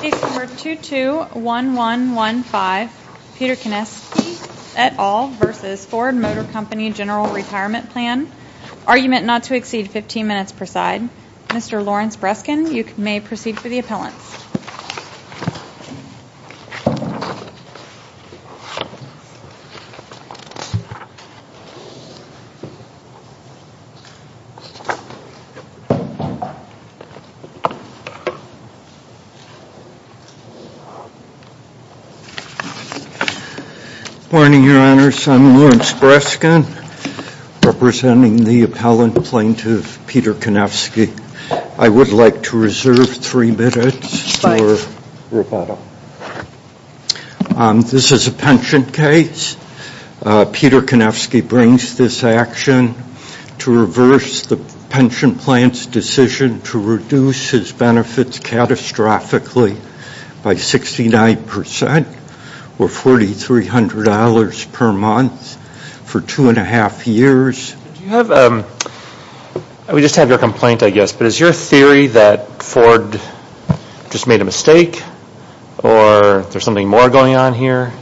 Case number 221115 Peter Kanefsky et al. v. Ford Motor Company General Retirement Plan Argument not to exceed 15 minutes per side Mr. Lawrence Breskin you may proceed for the hearing. Good morning your honors I'm Lawrence Breskin representing the appellant plaintiff Peter Kanefsky. I would like to reserve three minutes for rebuttal. This is a pension case. Peter Kanefsky brings this action to reverse the pension plan's decision to reduce his benefits catastrophically by 69% or $4,300 per month for two and a half years. We just have your complaint I guess but is your theory that Ford just made a mistake or there's something more going on here?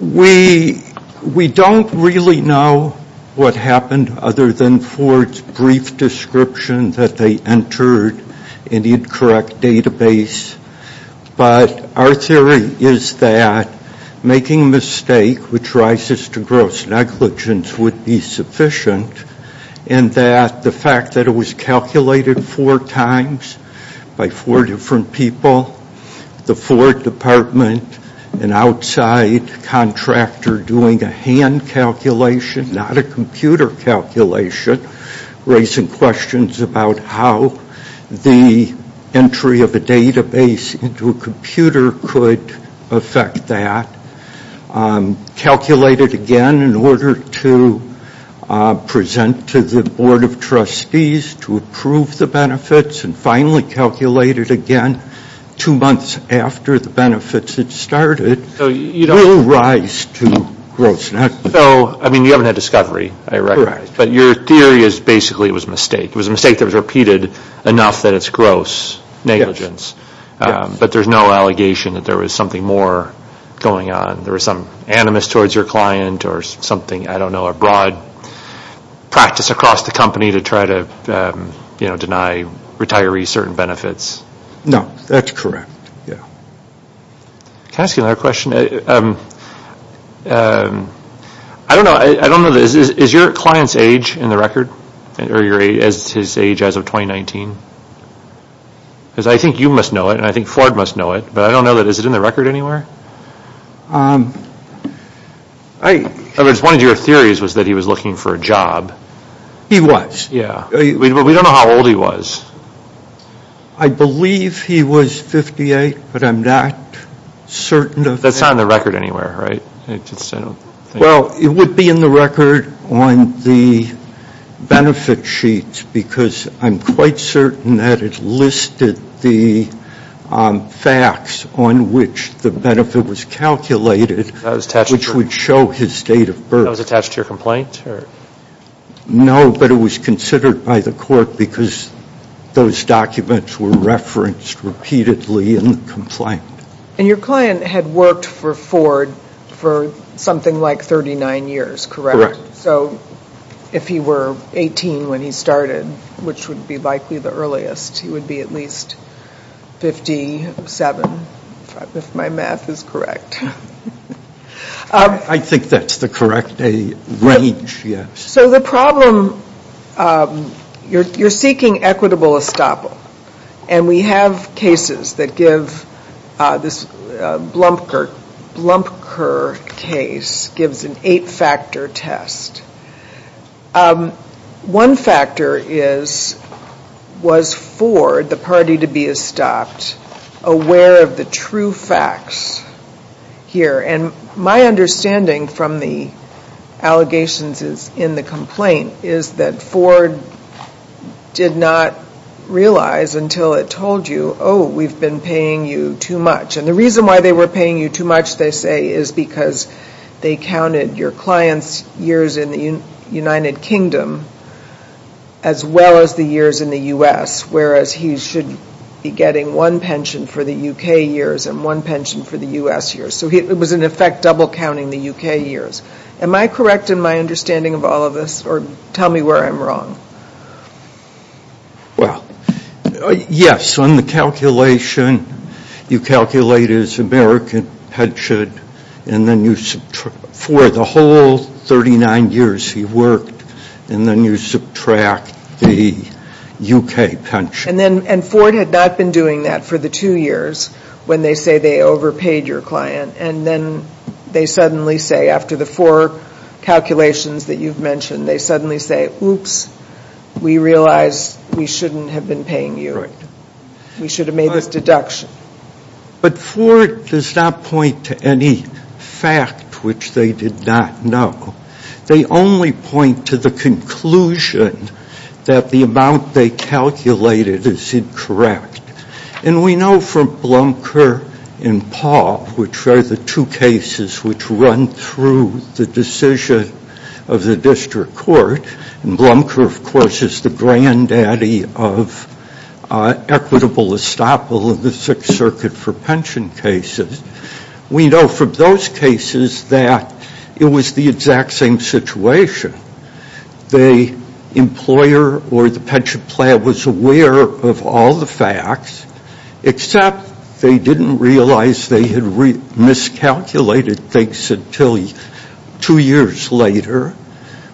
We don't really know what happened other than Ford's brief description that they entered an incorrect database but our theory is that making a mistake which rises to gross negligence would be sufficient and that the fact that it was calculated four times by four different people, the Ford department, an outside contractor doing a hand calculation not a computer calculation, raising questions about how the entry of a database into a computer could affect that, calculated again in order to present to the Board of Trustees to approve the benefits and finally calculated again two months after the benefits had started, will rise to gross negligence. You haven't had discovery, I recognize, but your theory is basically it was a mistake. It was a mistake that was repeated enough that it's gross negligence but there's no allegation that there was something more going on. There was some animus towards your client or something, I don't know, a broad practice across the company to try to deny retirees certain benefits. No, that's correct. Can I ask you another question? I don't know, is your client's age in the record, or his age as of 2019? Because I think you must know it and I think Ford must know it, but I don't know, is it in the record anywhere? One of your theories was that he was looking for a job. He was. We don't know how old he was. I believe he was 58, but I'm not certain of that. That's not in the record anywhere, right? Well, it would be in the record on the benefit sheets because I'm quite certain that it listed the facts on which the benefit was calculated, which would show his date of birth. That was attached to your complaint? No, but it was considered by the court because those documents were referenced repeatedly in the complaint. And your client had worked for Ford for something like 39 years, correct? So if he were 18 when he started, which would be likely the earliest, he would be at least 57, if my math is correct. I think that's the correct range, yes. So the problem, you're seeking equitable estoppel, and we have cases that give, this Blumpker case gives an eight-factor test. One factor is, was Ford, the party to be estopped, aware of the true facts here? And my understanding from the allegations in the complaint is that Ford did not realize until it told you, oh, we've been paying you too much. And the reason why they were paying you too much, they say, is because they counted your client's years in the United Kingdom as well as the years in the U.S., whereas he should be getting one pension for the U.K. years and one pension for the U.S. years. So it was, in effect, double-counting the U.K. years. Am I correct in my understanding of all of this, or tell me where I'm wrong? Well, yes, on the calculation, you calculate his American pension, and then you subtract, for the whole 39 years he worked, and then you subtract the U.K. pension. And Ford had not been doing that for the two years when they say they overpaid your client, and then they suddenly say, after the four calculations that you've mentioned, they suddenly say, oops, we realize we shouldn't have been paying you. We should have made this deduction. But Ford does not point to any fact which they did not know. They only point to the conclusion that the amount they calculated is incorrect. And we know from Blumker and Paul, which are the two cases which run through the decision of the district court, and Blumker, of course, is the granddaddy of equitable estoppel in the Sixth Circuit for pension cases, we know from those cases that it was the exact same situation. The employer or the pension plan was aware of all the facts, except they didn't realize they had miscalculated things until two years later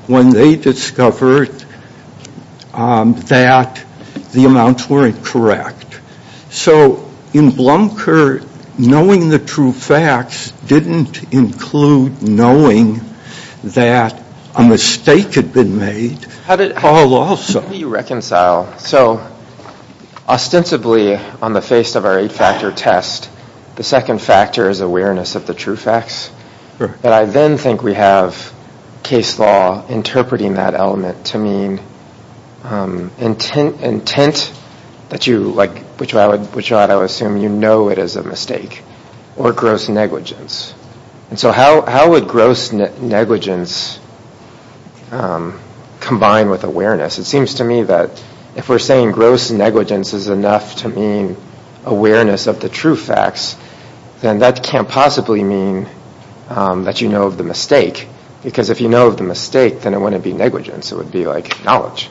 when they discovered that the amounts weren't correct. So in Blumker, knowing the true facts didn't include knowing that a mistake had been made. How did you reconcile? So ostensibly on the face of our eight-factor test, the second factor is awareness of the true facts. But I then think we have case law interpreting that element to mean intent, which I would assume you know it is a mistake, or gross negligence. And so how would gross negligence combine with awareness? It seems to me that if we're saying gross negligence is enough to mean awareness of the true facts, then that can't possibly mean that you know of the mistake, because if you know of the mistake, then it wouldn't be negligence. It would be like knowledge.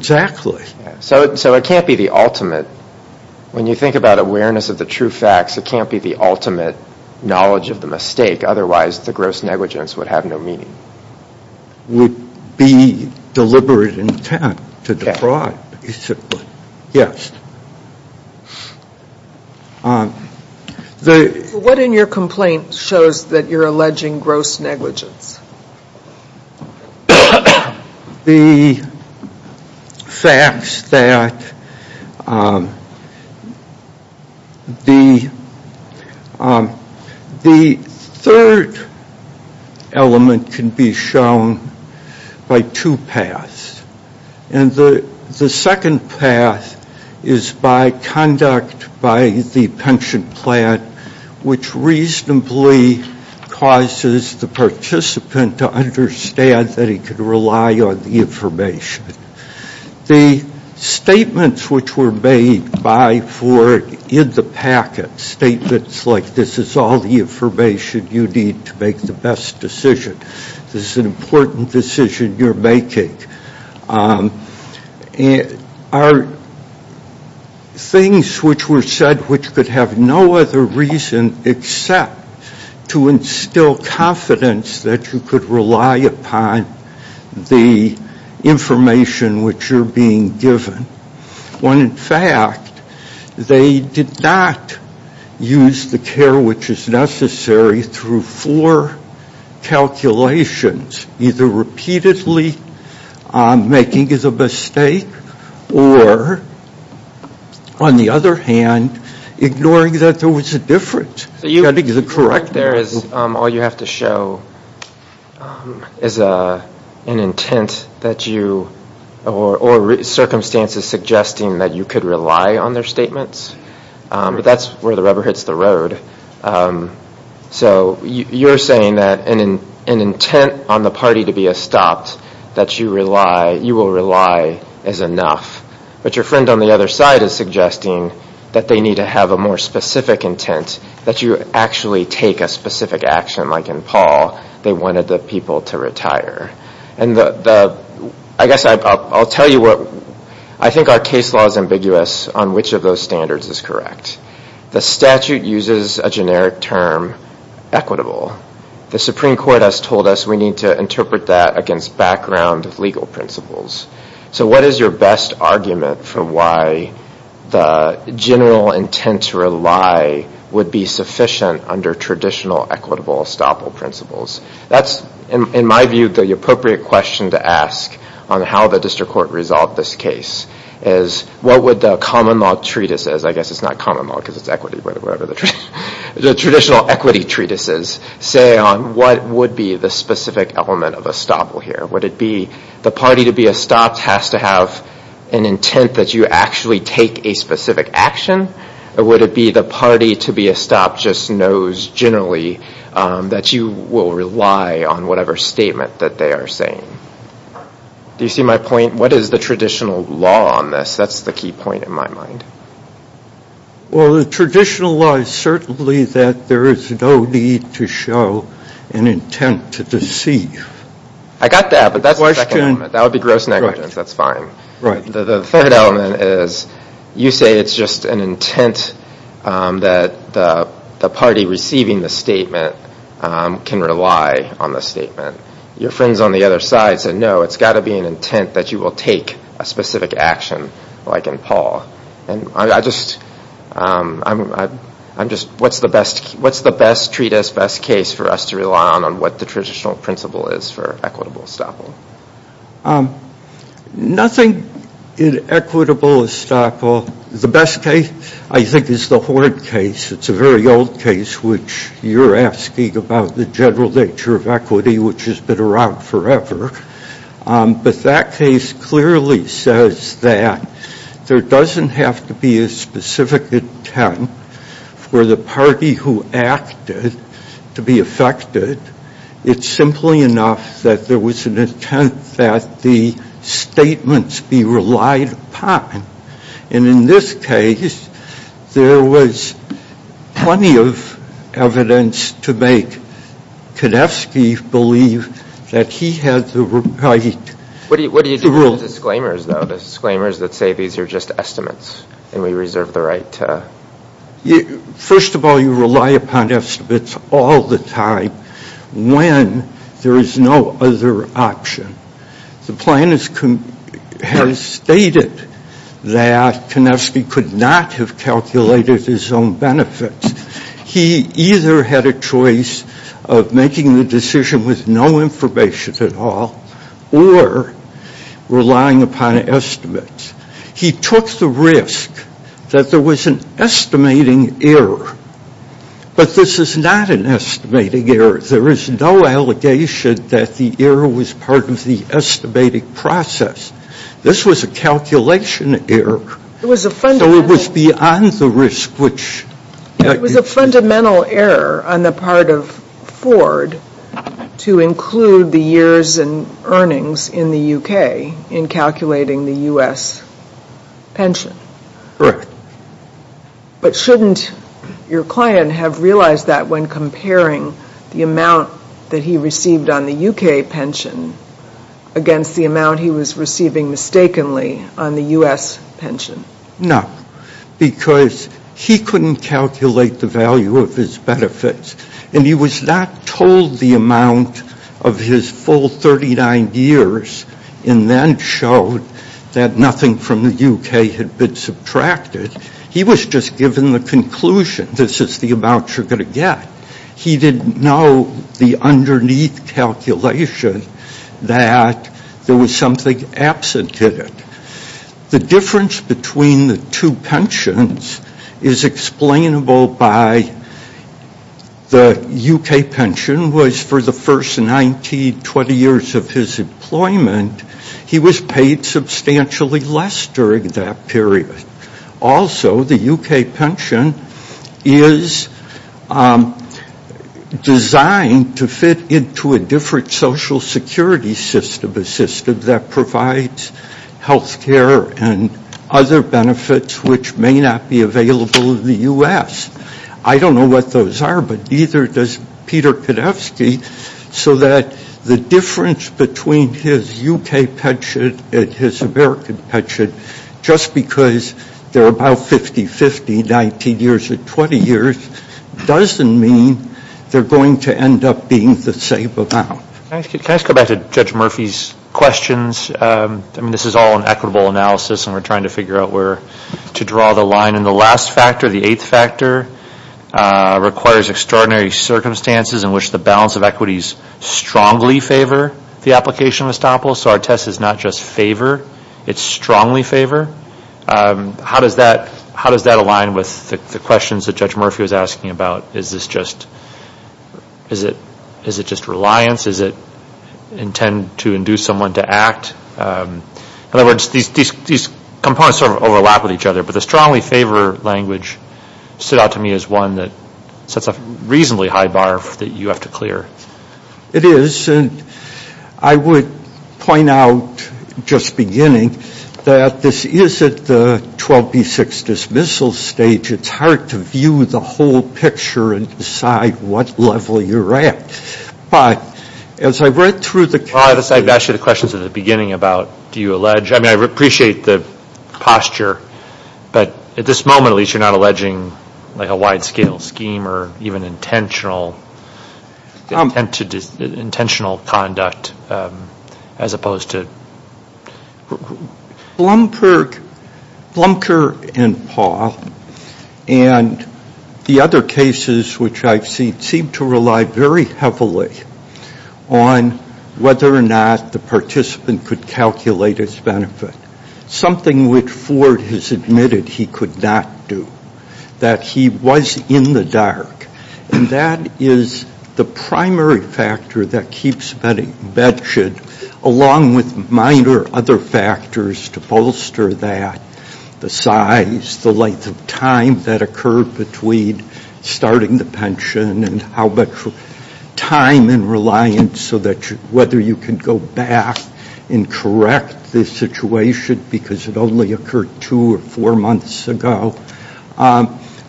So it can't be the ultimate. When you think about awareness of the true facts, it can't be the ultimate knowledge of the mistake. Otherwise, the gross negligence would have no meaning. It would be deliberate intent to defraud, basically. What in your complaint shows that you're alleging gross negligence? The facts that the third element can be shown by two paths. And the second path is by conduct by the pension plan, which reasonably causes the participant to understand that he can rely on the information. The statements which were made by Ford in the packet, statements like this is all the information you need to make the best decision, this is an important decision you're making, are things which were said which could have no other reason except to instill confidence that you could rely upon the information which you're being given. When in fact, they did not use the care which is necessary through four calculations, either repeatedly making as a mistake, or on the other hand, ignoring that there was a difference. All you have to show is an intent that you, or circumstances suggesting that you could rely on their statements. That's where the rubber hits the road. So you're saying that an intent on the party to be stopped, that you will rely is enough, but your friend on the other side is suggesting that they need to have a more specific intent, that you actually take a specific action like in Paul, they wanted the people to retire. I guess I'll tell you what, I think our case law is ambiguous on which of those standards is correct. The statute uses a generic term, equitable. The Supreme Court has told us we need to interpret that against background legal principles. So what is your best argument for why the general intent to rely would be sufficient under traditional equitable estoppel principles? That's, in my view, the appropriate question to ask on how the district court resolved this case is, what would the common law treatises, I guess it's not common law because it's equity, the traditional equity treatises, say on what would be the specific element of estoppel here? Would it be the party to be estopped has to have an intent that you actually take a specific action? Or would it be the party to be estopped just knows generally that you will rely on whatever statement that they are saying? Do you see my point? What is the traditional law on this? That's the key point in my mind. Well, the traditional law is certainly that there is no need to show an intent to deceive. I got that, but that's the second element. That would be gross negligence. That's fine. The third element is you say it's just an intent that the party receiving the statement can rely on the statement. Your friends on the other side said, no, it's got to be an intent that you will take a specific action like in Paul. What's the best treatise, best case for us to rely on on what the traditional principle is for equitable estoppel? Nothing in equitable estoppel. The best case I think is the Hoard case. It's a very old case which you're asking about the general nature of equity which has been around forever. But that case clearly says that there doesn't have to be a specific intent for the party who acted to be affected. It's simply enough that there was an intent that the statements be relied upon. And in this case, there was plenty of evidence to make Konefsky believe that he had the right to rule. What do you do with disclaimers though? Disclaimers that say these are just estimates and we reserve the right to? First of all, you rely upon estimates all the time when there is no other option. The plan has stated that Konefsky could not have calculated his own benefits. He either had a choice of making the decision with no information at all or relying upon estimates. He took the risk that there was an estimating error. But this is not an estimating error. There is no allegation that the error was part of the estimating process. This was a calculation error. It was a fundamental. So it was beyond the risk which. It was a fundamental error on the part of Ford to include the years and earnings in the UK in calculating the US pension. Correct. But shouldn't your client have realized that when comparing the amount that he received on the UK pension against the amount he was receiving mistakenly on the US pension? No. Because he couldn't calculate the value of his benefits. And he was not told the amount of his full 39 years and then showed that nothing from the UK had been subtracted. He was just given the conclusion. This is the amount you're going to get. He didn't know the underneath calculation that there was something absent in it. The difference between the two pensions is explainable by the UK pension was for the first 19, 20 years of his employment, he was paid substantially less during that period. Also, the UK pension is designed to fit into a different social security system, a system that provides health care and other benefits which may not be available in the US. I don't know what those are, but neither does Peter Konevsky, so that the difference between his UK pension and his American pension, just because they're about 50-50, 19 years or 20 years, doesn't mean they're going to end up being the same amount. Can I just go back to Judge Murphy's questions? I mean, this is all an equitable analysis, and we're trying to figure out where to draw the line. In the last factor, the eighth factor, requires extraordinary circumstances in which the balance of equities strongly favor the application of estoppel, so our test is not just favor, it's strongly favor. How does that align with the questions that Judge Murphy was asking about? Is it just reliance? Is it intent to induce someone to act? In other words, these components sort of overlap with each other, but the strongly favor language stood out to me as one that sets a reasonably high bar that you have to clear. It is, and I would point out, just beginning, that this is at the 12B6 dismissal stage. It's hard to view the whole picture and decide what level you're at, but as I read through the case. Well, I've asked you the questions at the beginning about do you allege. I mean, I appreciate the posture, but at this moment, at least, you're not alleging like a wide-scale scheme or even intentional conduct as opposed to. Blumker and Paul and the other cases which I've seen seem to rely very heavily on whether or not the participant could calculate his benefit, something which Ford has admitted he could not do, that he was in the dark, and that is the primary factor that keeps Betty bedshed, along with minor other factors to bolster that, the size, the length of time that occurred between starting the pension and how much time and reliance so that whether you can go back and correct this situation because it only occurred two or four months ago.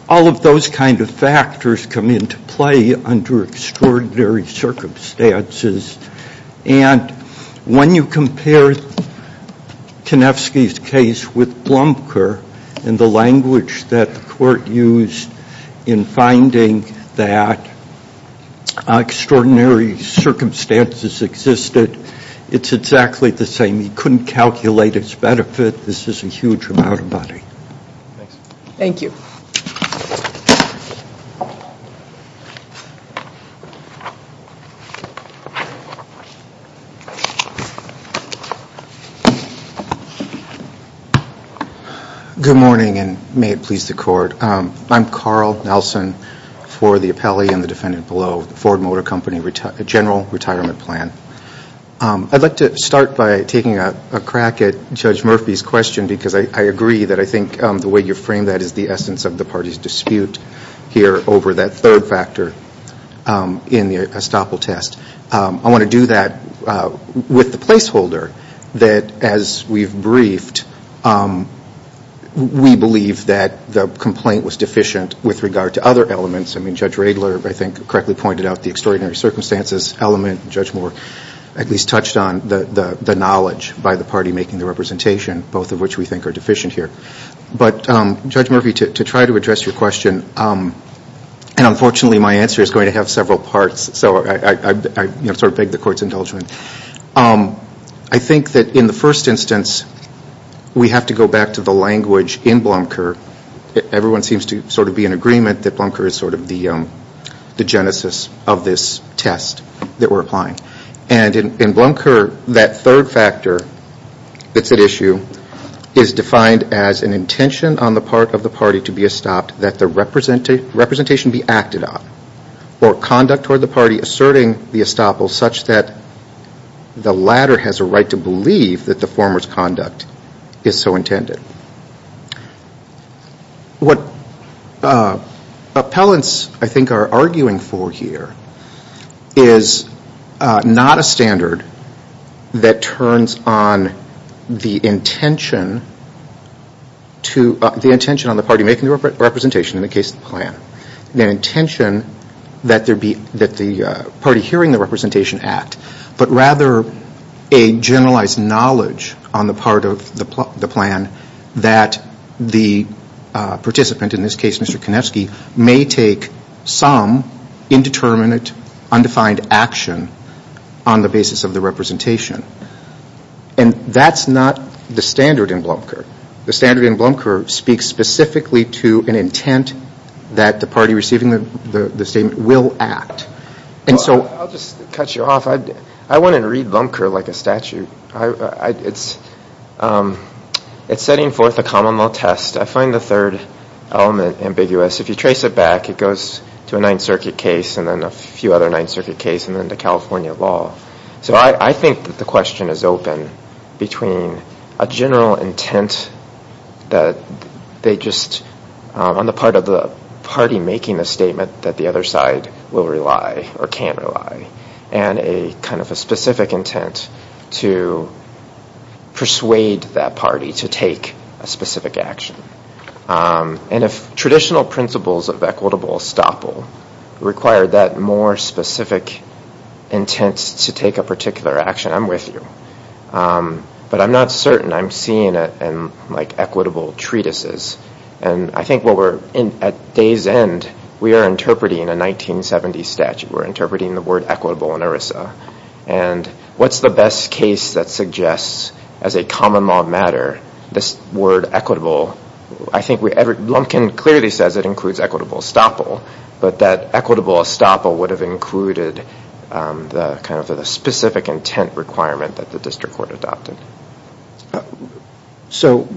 All of those kind of factors come into play under extraordinary circumstances, and when you compare Konefsky's case with Blumker and the language that the court used in finding that extraordinary circumstances existed, it's exactly the same. He couldn't calculate his benefit. This is a huge amount of money. Thank you. Good morning, and may it please the Court. I'm Carl Nelson for the appellee and the defendant below, Ford Motor Company General Retirement Plan. I'd like to start by taking a crack at Judge Murphy's question because I agree that I think the way you frame that is the essence of the party's dispute here over that third factor in the estoppel test. I want to do that with the placeholder that, as we've briefed, we believe that the complaint was deficient with regard to other elements. I mean, Judge Radler, I think, correctly pointed out the extraordinary circumstances element. Judge Moore at least touched on the knowledge by the party making the representation, both of which we think are deficient here. But, Judge Murphy, to try to address your question, and unfortunately my answer is going to have several parts, so I sort of beg the Court's indulgement. I think that in the first instance, we have to go back to the language in Blumker. Everyone seems to sort of be in agreement that Blumker is sort of the genesis of this test that we're applying. And in Blumker, that third factor that's at issue is defined as an intention on the part of the party to be estopped that the representation be acted on, or conduct toward the party asserting the estoppel such that the latter has a right to believe that the former's conduct is so intended. What appellants, I think, are arguing for here is not a standard that turns on the intention on the party making the representation, in the case of the plan, the intention that the party hearing the representation act, but rather a generalized knowledge on the part of the plan that the participant, in this case Mr. Konevsky, may take some indeterminate, undefined action on the basis of the representation. And that's not the standard in Blumker. The standard in Blumker speaks specifically to an intent that the party receiving the statement will act. I'll just cut you off. I wouldn't read Blumker like a statute. It's setting forth a common law test. I find the third element ambiguous. If you trace it back, it goes to a Ninth Circuit case and then a few other Ninth Circuit cases and then to California law. So I think that the question is open between a general intent that they just, on the part of the party making the statement that the other side will rely or can't rely, and a kind of a specific intent to persuade that party to take a specific action. And if traditional principles of equitable estoppel require that more specific intent to take a particular action, I'm with you. But I'm not certain. I'm seeing it in, like, equitable treatises. And I think at day's end, we are interpreting a 1970s statute. We're interpreting the word equitable in ERISA. And what's the best case that suggests, as a common law matter, this word equitable? I think Blumkin clearly says it includes equitable estoppel, but that equitable estoppel would have included the kind of specific intent requirement that the district court adopted. So,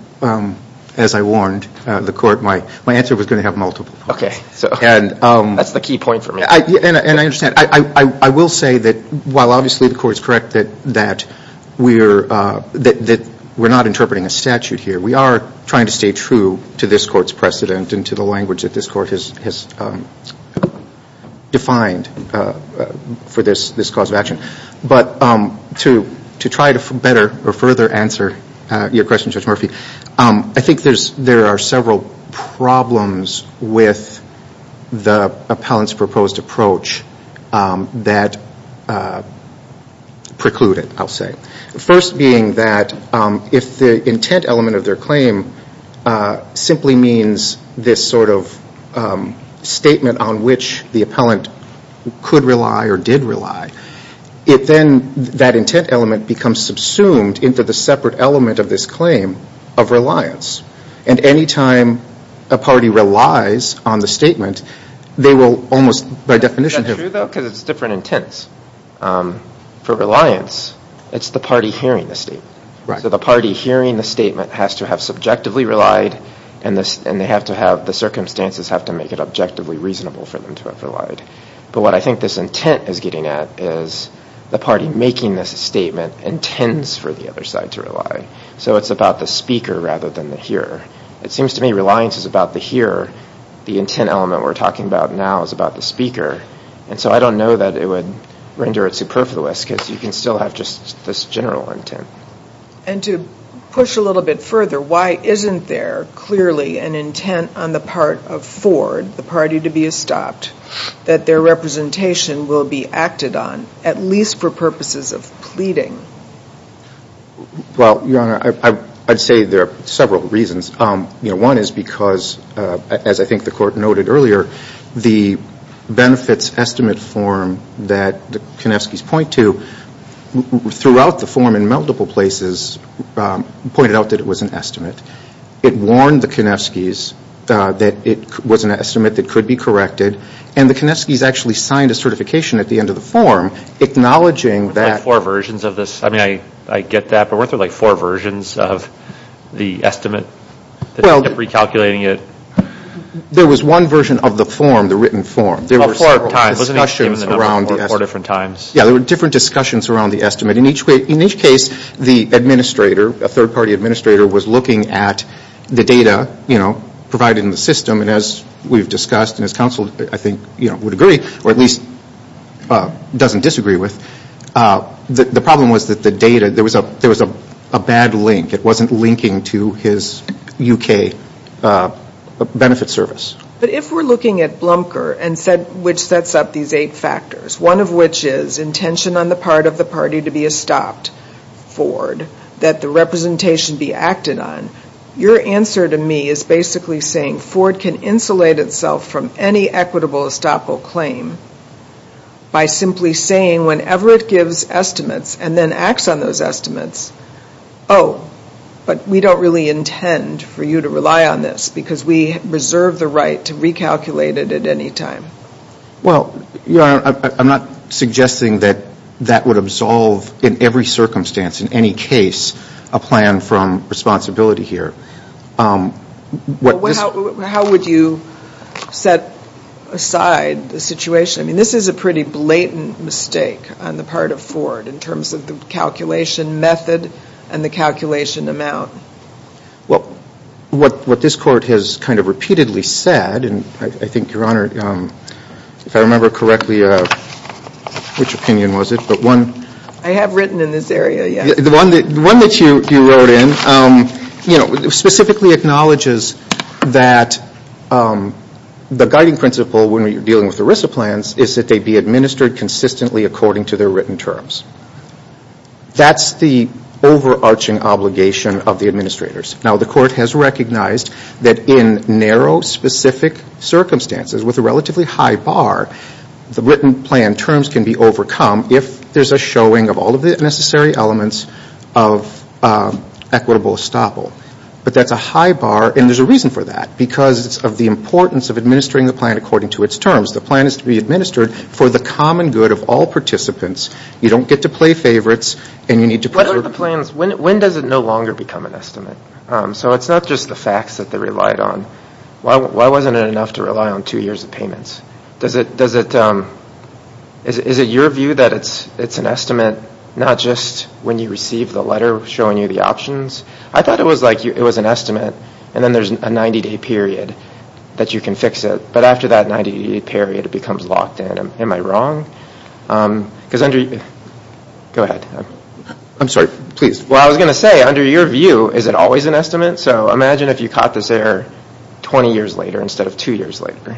as I warned the court, my answer was going to have multiple points. Okay. That's the key point for me. And I understand. I will say that while obviously the court is correct that we're not interpreting a statute here, we are trying to stay true to this court's precedent and to the language that this court has defined for this cause of action. But to try to better or further answer your question, Judge Murphy, I think there are several problems with the appellant's proposed approach that preclude it, I'll say. First being that if the intent element of their claim simply means this sort of statement on which the appellant could rely or did rely, then that intent element becomes subsumed into the separate element of this claim of reliance. And any time a party relies on the statement, they will almost by definition have- the party hearing the statement. Right. So the party hearing the statement has to have subjectively relied, and the circumstances have to make it objectively reasonable for them to have relied. But what I think this intent is getting at is the party making this statement intends for the other side to rely. So it's about the speaker rather than the hearer. It seems to me reliance is about the hearer. The intent element we're talking about now is about the speaker. And so I don't know that it would render it superfluous because you can still have just this general intent. And to push a little bit further, why isn't there clearly an intent on the part of Ford, the party to be estopped, that their representation will be acted on, at least for purposes of pleading? Well, Your Honor, I'd say there are several reasons. One is because, as I think the Court noted earlier, the benefits estimate form that the Konevskys point to, throughout the form in multiple places pointed out that it was an estimate. It warned the Konevskys that it was an estimate that could be corrected, and the Konevskys actually signed a certification at the end of the form acknowledging that- Well, Your Honor, weren't there like four versions of the estimate that kept recalculating it? There was one version of the form, the written form. There were several discussions around the estimate. Yeah, there were different discussions around the estimate. In each case, the administrator, a third-party administrator, was looking at the data provided in the system. And as we've discussed, and as counsel, I think, would agree, or at least doesn't disagree with, the problem was that the data, there was a bad link. It wasn't linking to his U.K. benefit service. But if we're looking at Blumker, which sets up these eight factors, one of which is intention on the part of the party to be estopped, Ford, that the representation be acted on, your answer to me is basically saying Ford can insulate itself from any equitable estoppel claim by simply saying whenever it gives estimates and then acts on those estimates, oh, but we don't really intend for you to rely on this because we reserve the right to recalculate it at any time. Well, Your Honor, I'm not suggesting that that would absolve, in every circumstance, in any case, a plan from responsibility here. Well, how would you set aside the situation? I mean, this is a pretty blatant mistake on the part of Ford in terms of the calculation method and the calculation amount. Well, what this Court has kind of repeatedly said, and I think, Your Honor, if I remember correctly, which opinion was it? I have written in this area, yes. The one that you wrote in specifically acknowledges that the guiding principle when you're dealing with ERISA plans is that they be administered consistently according to their written terms. That's the overarching obligation of the administrators. Now, the Court has recognized that in narrow, specific circumstances with a relatively high bar, the written plan terms can be overcome if there's a showing of all of the necessary elements of equitable estoppel. But that's a high bar, and there's a reason for that, because of the importance of administering the plan according to its terms. The plan is to be administered for the common good of all participants. You don't get to play favorites, and you need to preserve. When does it no longer become an estimate? So it's not just the facts that they relied on. Why wasn't it enough to rely on two years of payments? Is it your view that it's an estimate, not just when you receive the letter showing you the options? I thought it was an estimate, and then there's a 90-day period that you can fix it. But after that 90-day period, it becomes locked in. Am I wrong? Go ahead. I'm sorry, please. Well, I was going to say, under your view, is it always an estimate? So imagine if you caught this error 20 years later instead of two years later,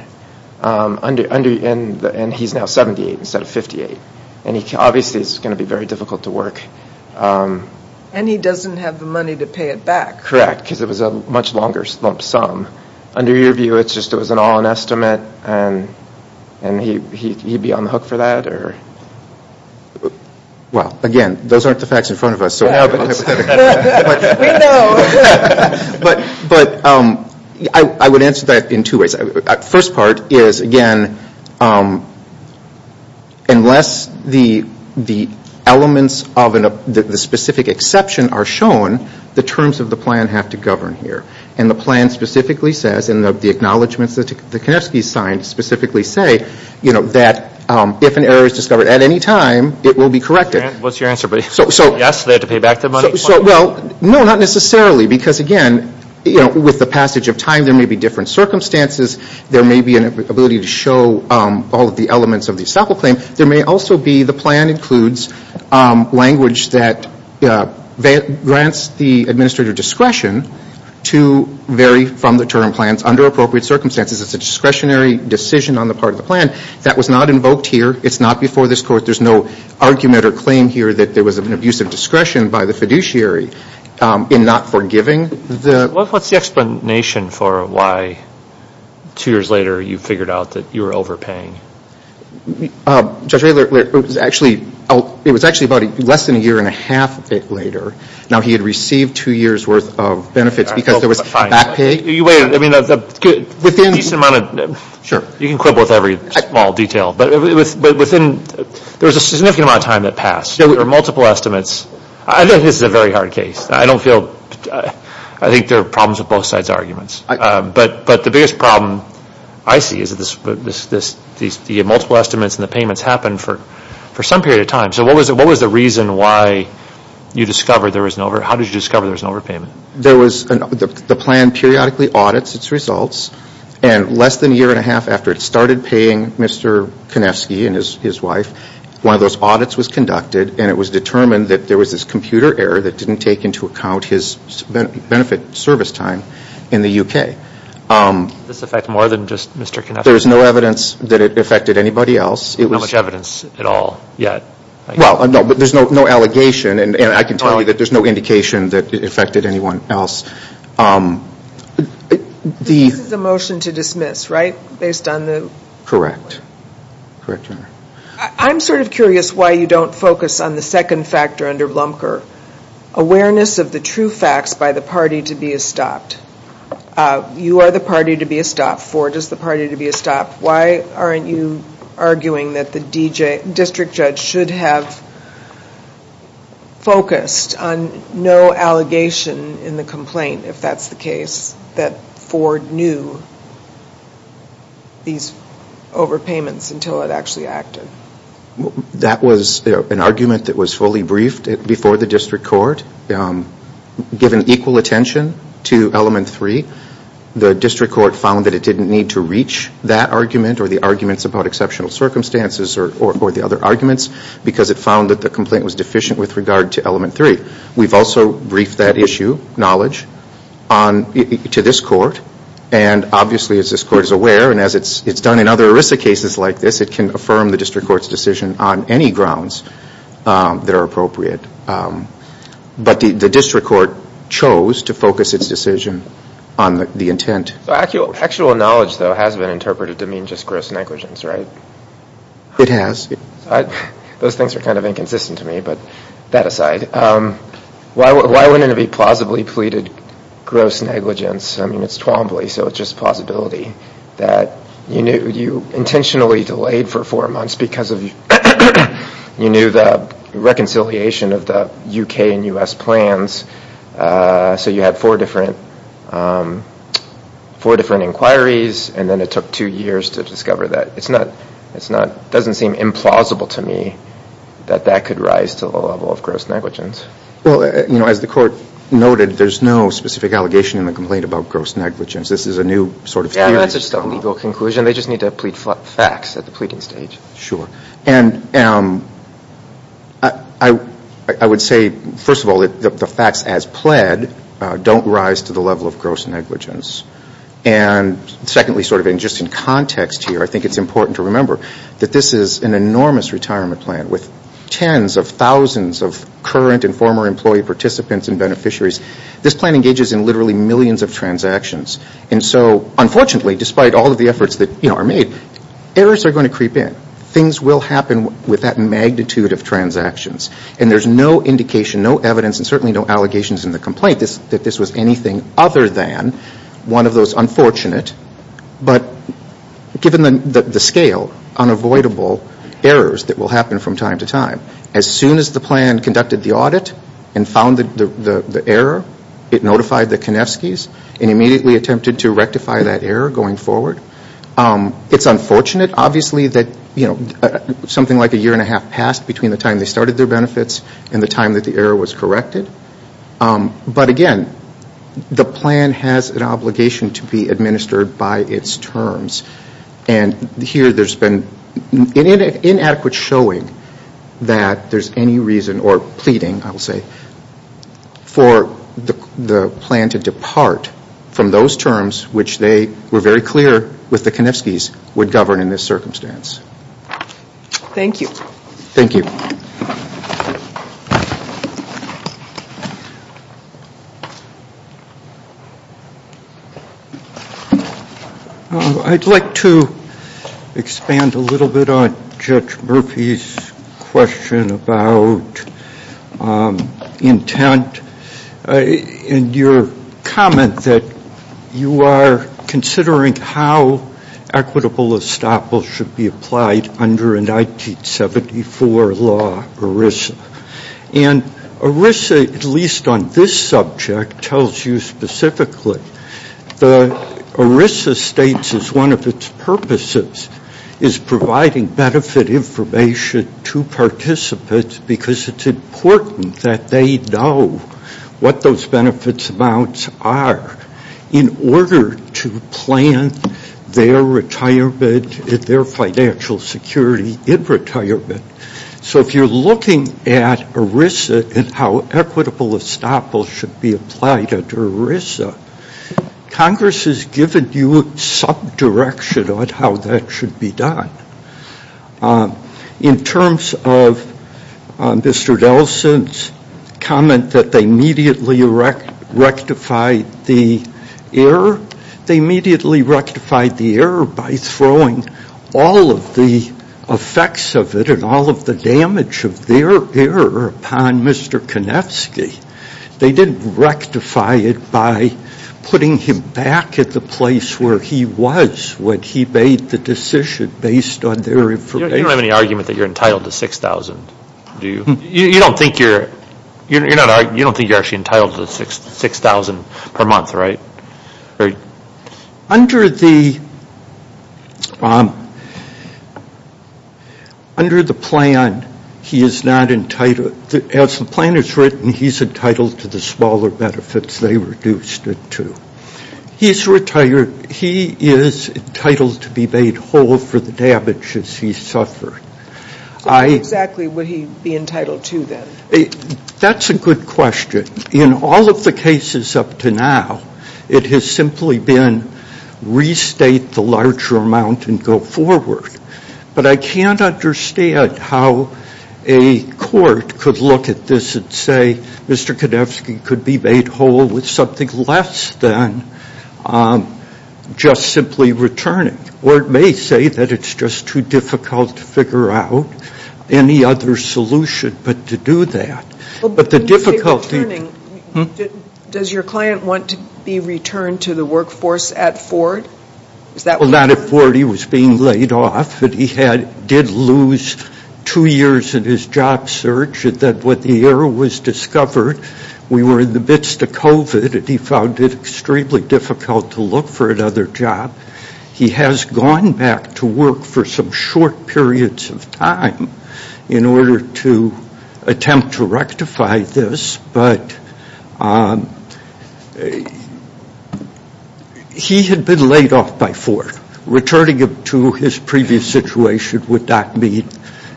and he's now 78 instead of 58. Obviously, it's going to be very difficult to work. And he doesn't have the money to pay it back. Correct, because it was a much longer lump sum. Under your view, it was just an all-in estimate, and he'd be on the hook for that? Well, again, those aren't the facts in front of us. We know. But I would answer that in two ways. The first part is, again, unless the elements of the specific exception are shown, the terms of the plan have to govern here. And the plan specifically says, and the acknowledgments that Konevsky signed specifically say, that if an error is discovered at any time, it will be corrected. What's your answer, buddy? Yes, they have to pay back the money. Well, no, not necessarily, because, again, with the passage of time, there may be different circumstances. There may be an ability to show all of the elements of the estoppel claim. There may also be the plan includes language that grants the administrator discretion to vary from the term plans under appropriate circumstances. It's a discretionary decision on the part of the plan. That was not invoked here. It's not before this Court. There's no argument or claim here that there was an abuse of discretion by the fiduciary in not forgiving the. What's the explanation for why two years later you figured out that you were overpaying? Judge Raylard, it was actually about less than a year and a half later. Now, he had received two years' worth of benefits because there was back pay. You can quibble with every small detail, but there was a significant amount of time that passed. There were multiple estimates. I think this is a very hard case. I think there are problems with both sides' arguments. But the biggest problem I see is that the multiple estimates and the payments happened for some period of time. So what was the reason why you discovered there was an overpayment? How did you discover there was an overpayment? The plan periodically audits its results. And less than a year and a half after it started paying Mr. Konefsky and his wife, one of those audits was conducted, and it was determined that there was this computer error that didn't take into account his benefit service time in the U.K. Does this affect more than just Mr. Konefsky? There was no evidence that it affected anybody else. Not much evidence at all yet? Well, no, but there's no allegation, and I can tell you that there's no indication that it affected anyone else. This is a motion to dismiss, right, based on the? Correct. I'm sort of curious why you don't focus on the second factor under Blumker, awareness of the true facts by the party to be estopped. You are the party to be estopped for. It is the party to be estopped. Why aren't you arguing that the district judge should have focused on no allegation in the complaint, if that's the case, that Ford knew these overpayments until it actually acted? That was an argument that was fully briefed before the district court. Given equal attention to element three, the district court found that it didn't need to reach that argument or the arguments about exceptional circumstances or the other arguments because it found that the complaint was deficient with regard to element three. We've also briefed that issue, knowledge, to this court, and obviously as this court is aware and as it's done in other ERISA cases like this, it can affirm the district court's decision on any grounds that are appropriate. But the district court chose to focus its decision on the intent. Actual knowledge, though, has been interpreted to mean just gross negligence, right? It has. Those things are kind of inconsistent to me, but that aside. Why wouldn't it be plausibly pleaded gross negligence? I mean, it's Twombly, so it's just plausibility that you intentionally delayed for four months because you knew the reconciliation of the U.K. and U.S. plans, so you had four different inquiries, and then it took two years to discover that. It doesn't seem implausible to me that that could rise to the level of gross negligence. Well, as the court noted, there's no specific allegation in the complaint about gross negligence. This is a new sort of theory. They just need to plead facts at the pleading stage. Sure. And I would say, first of all, the facts as pled don't rise to the level of gross negligence. And secondly, sort of just in context here, I think it's important to remember that this is an enormous retirement plan with tens of thousands of current and former employee participants and beneficiaries. This plan engages in literally millions of transactions. And so, unfortunately, despite all of the efforts that are made, errors are going to creep in. Things will happen with that magnitude of transactions. And there's no indication, no evidence, and certainly no allegations in the complaint that this was anything other than one of those unfortunate, but given the scale, unavoidable errors that will happen from time to time. As soon as the plan conducted the audit and found the error, it notified the Konevskys, and immediately attempted to rectify that error going forward. It's unfortunate, obviously, that something like a year and a half passed between the time they started their benefits and the time that the error was corrected. But again, the plan has an obligation to be administered by its terms. And here, there's been inadequate showing that there's any reason, or pleading, I will say, for the plan to depart from those terms which they were very clear with the Konevskys would govern in this circumstance. Thank you. Thank you. I'd like to expand a little bit on Judge Murphy's question about intent. And your comment that you are considering how equitable estoppel should be applied under a 1974 law, ERISA. And ERISA, at least on this subject, tells you specifically that ERISA states as one of its purposes is providing benefit information to participants because it's important that they know what those benefits amounts are in order to plan their retirement, their financial security in retirement. So if you're looking at ERISA and how equitable estoppel should be applied under ERISA, Congress has given you some direction on how that should be done. In terms of Mr. Delson's comment that they immediately rectified the error, they immediately rectified the error by throwing all of the effects of it and all of the damage of their error upon Mr. Konevsky. They didn't rectify it by putting him back at the place where he was when he made the decision based on their information. You don't have any argument that you're entitled to $6,000, do you? You don't think you're actually entitled to $6,000 per month, right? Under the plan, he is not entitled. As the plan is written, he's entitled to the smaller benefits they reduced it to. He is entitled to be made whole for the damages he suffered. So what exactly would he be entitled to then? That's a good question. In all of the cases up to now, it has simply been restate the larger amount and go forward. But I can't understand how a court could look at this and say, Mr. Konevsky could be made whole with something less than just simply returning. Or it may say that it's just too difficult to figure out any other solution but to do that. Does your client want to be returned to the workforce at Ford? Not at Ford. He was being laid off. He did lose two years in his job search. What the error was discovered, we were in the midst of COVID, and he found it extremely difficult to look for another job. He has gone back to work for some short periods of time in order to attempt to rectify this. But he had been laid off by Ford. Returning him to his previous situation would not mean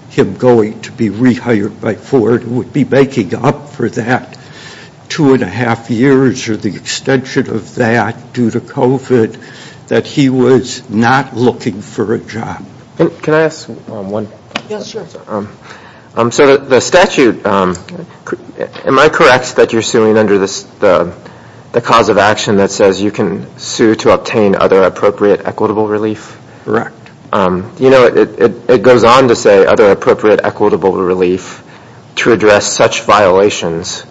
him going to be rehired by Ford. It would be making up for that two and a half years or the extension of that due to COVID that he was not looking for a job. Can I ask one question? Yes, sure. So the statute, am I correct that you're suing under the cause of action that says you can sue to obtain other appropriate equitable relief? Correct. You know, it goes on to say other appropriate equitable relief to address such violations,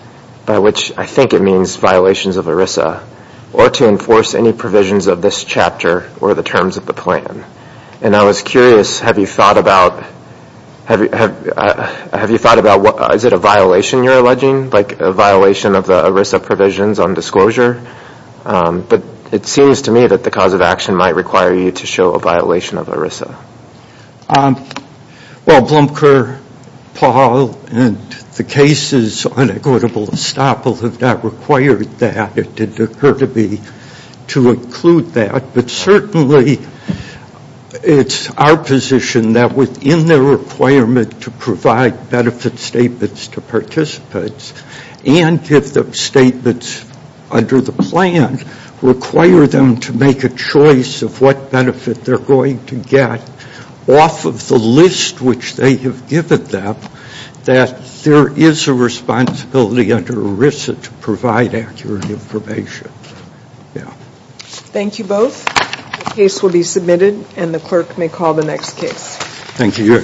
by which I think it means violations of ERISA, or to enforce any provisions of this chapter or the terms of the plan. And I was curious, have you thought about, is it a violation you're alleging, like a violation of the ERISA provisions on disclosure? But it seems to me that the cause of action might require you to show a violation of ERISA. Well, Blomker, Paul, and the cases on equitable estoppel have not required that. It didn't occur to me to include that. But certainly it's our position that within the requirement to provide benefit statements to participants and give them statements under the plan, require them to make a choice of what benefit they're going to get off of the list which they have given them, that there is a responsibility under ERISA to provide accurate information. Thank you both. The case will be submitted, and the clerk may call the next case. Thank you.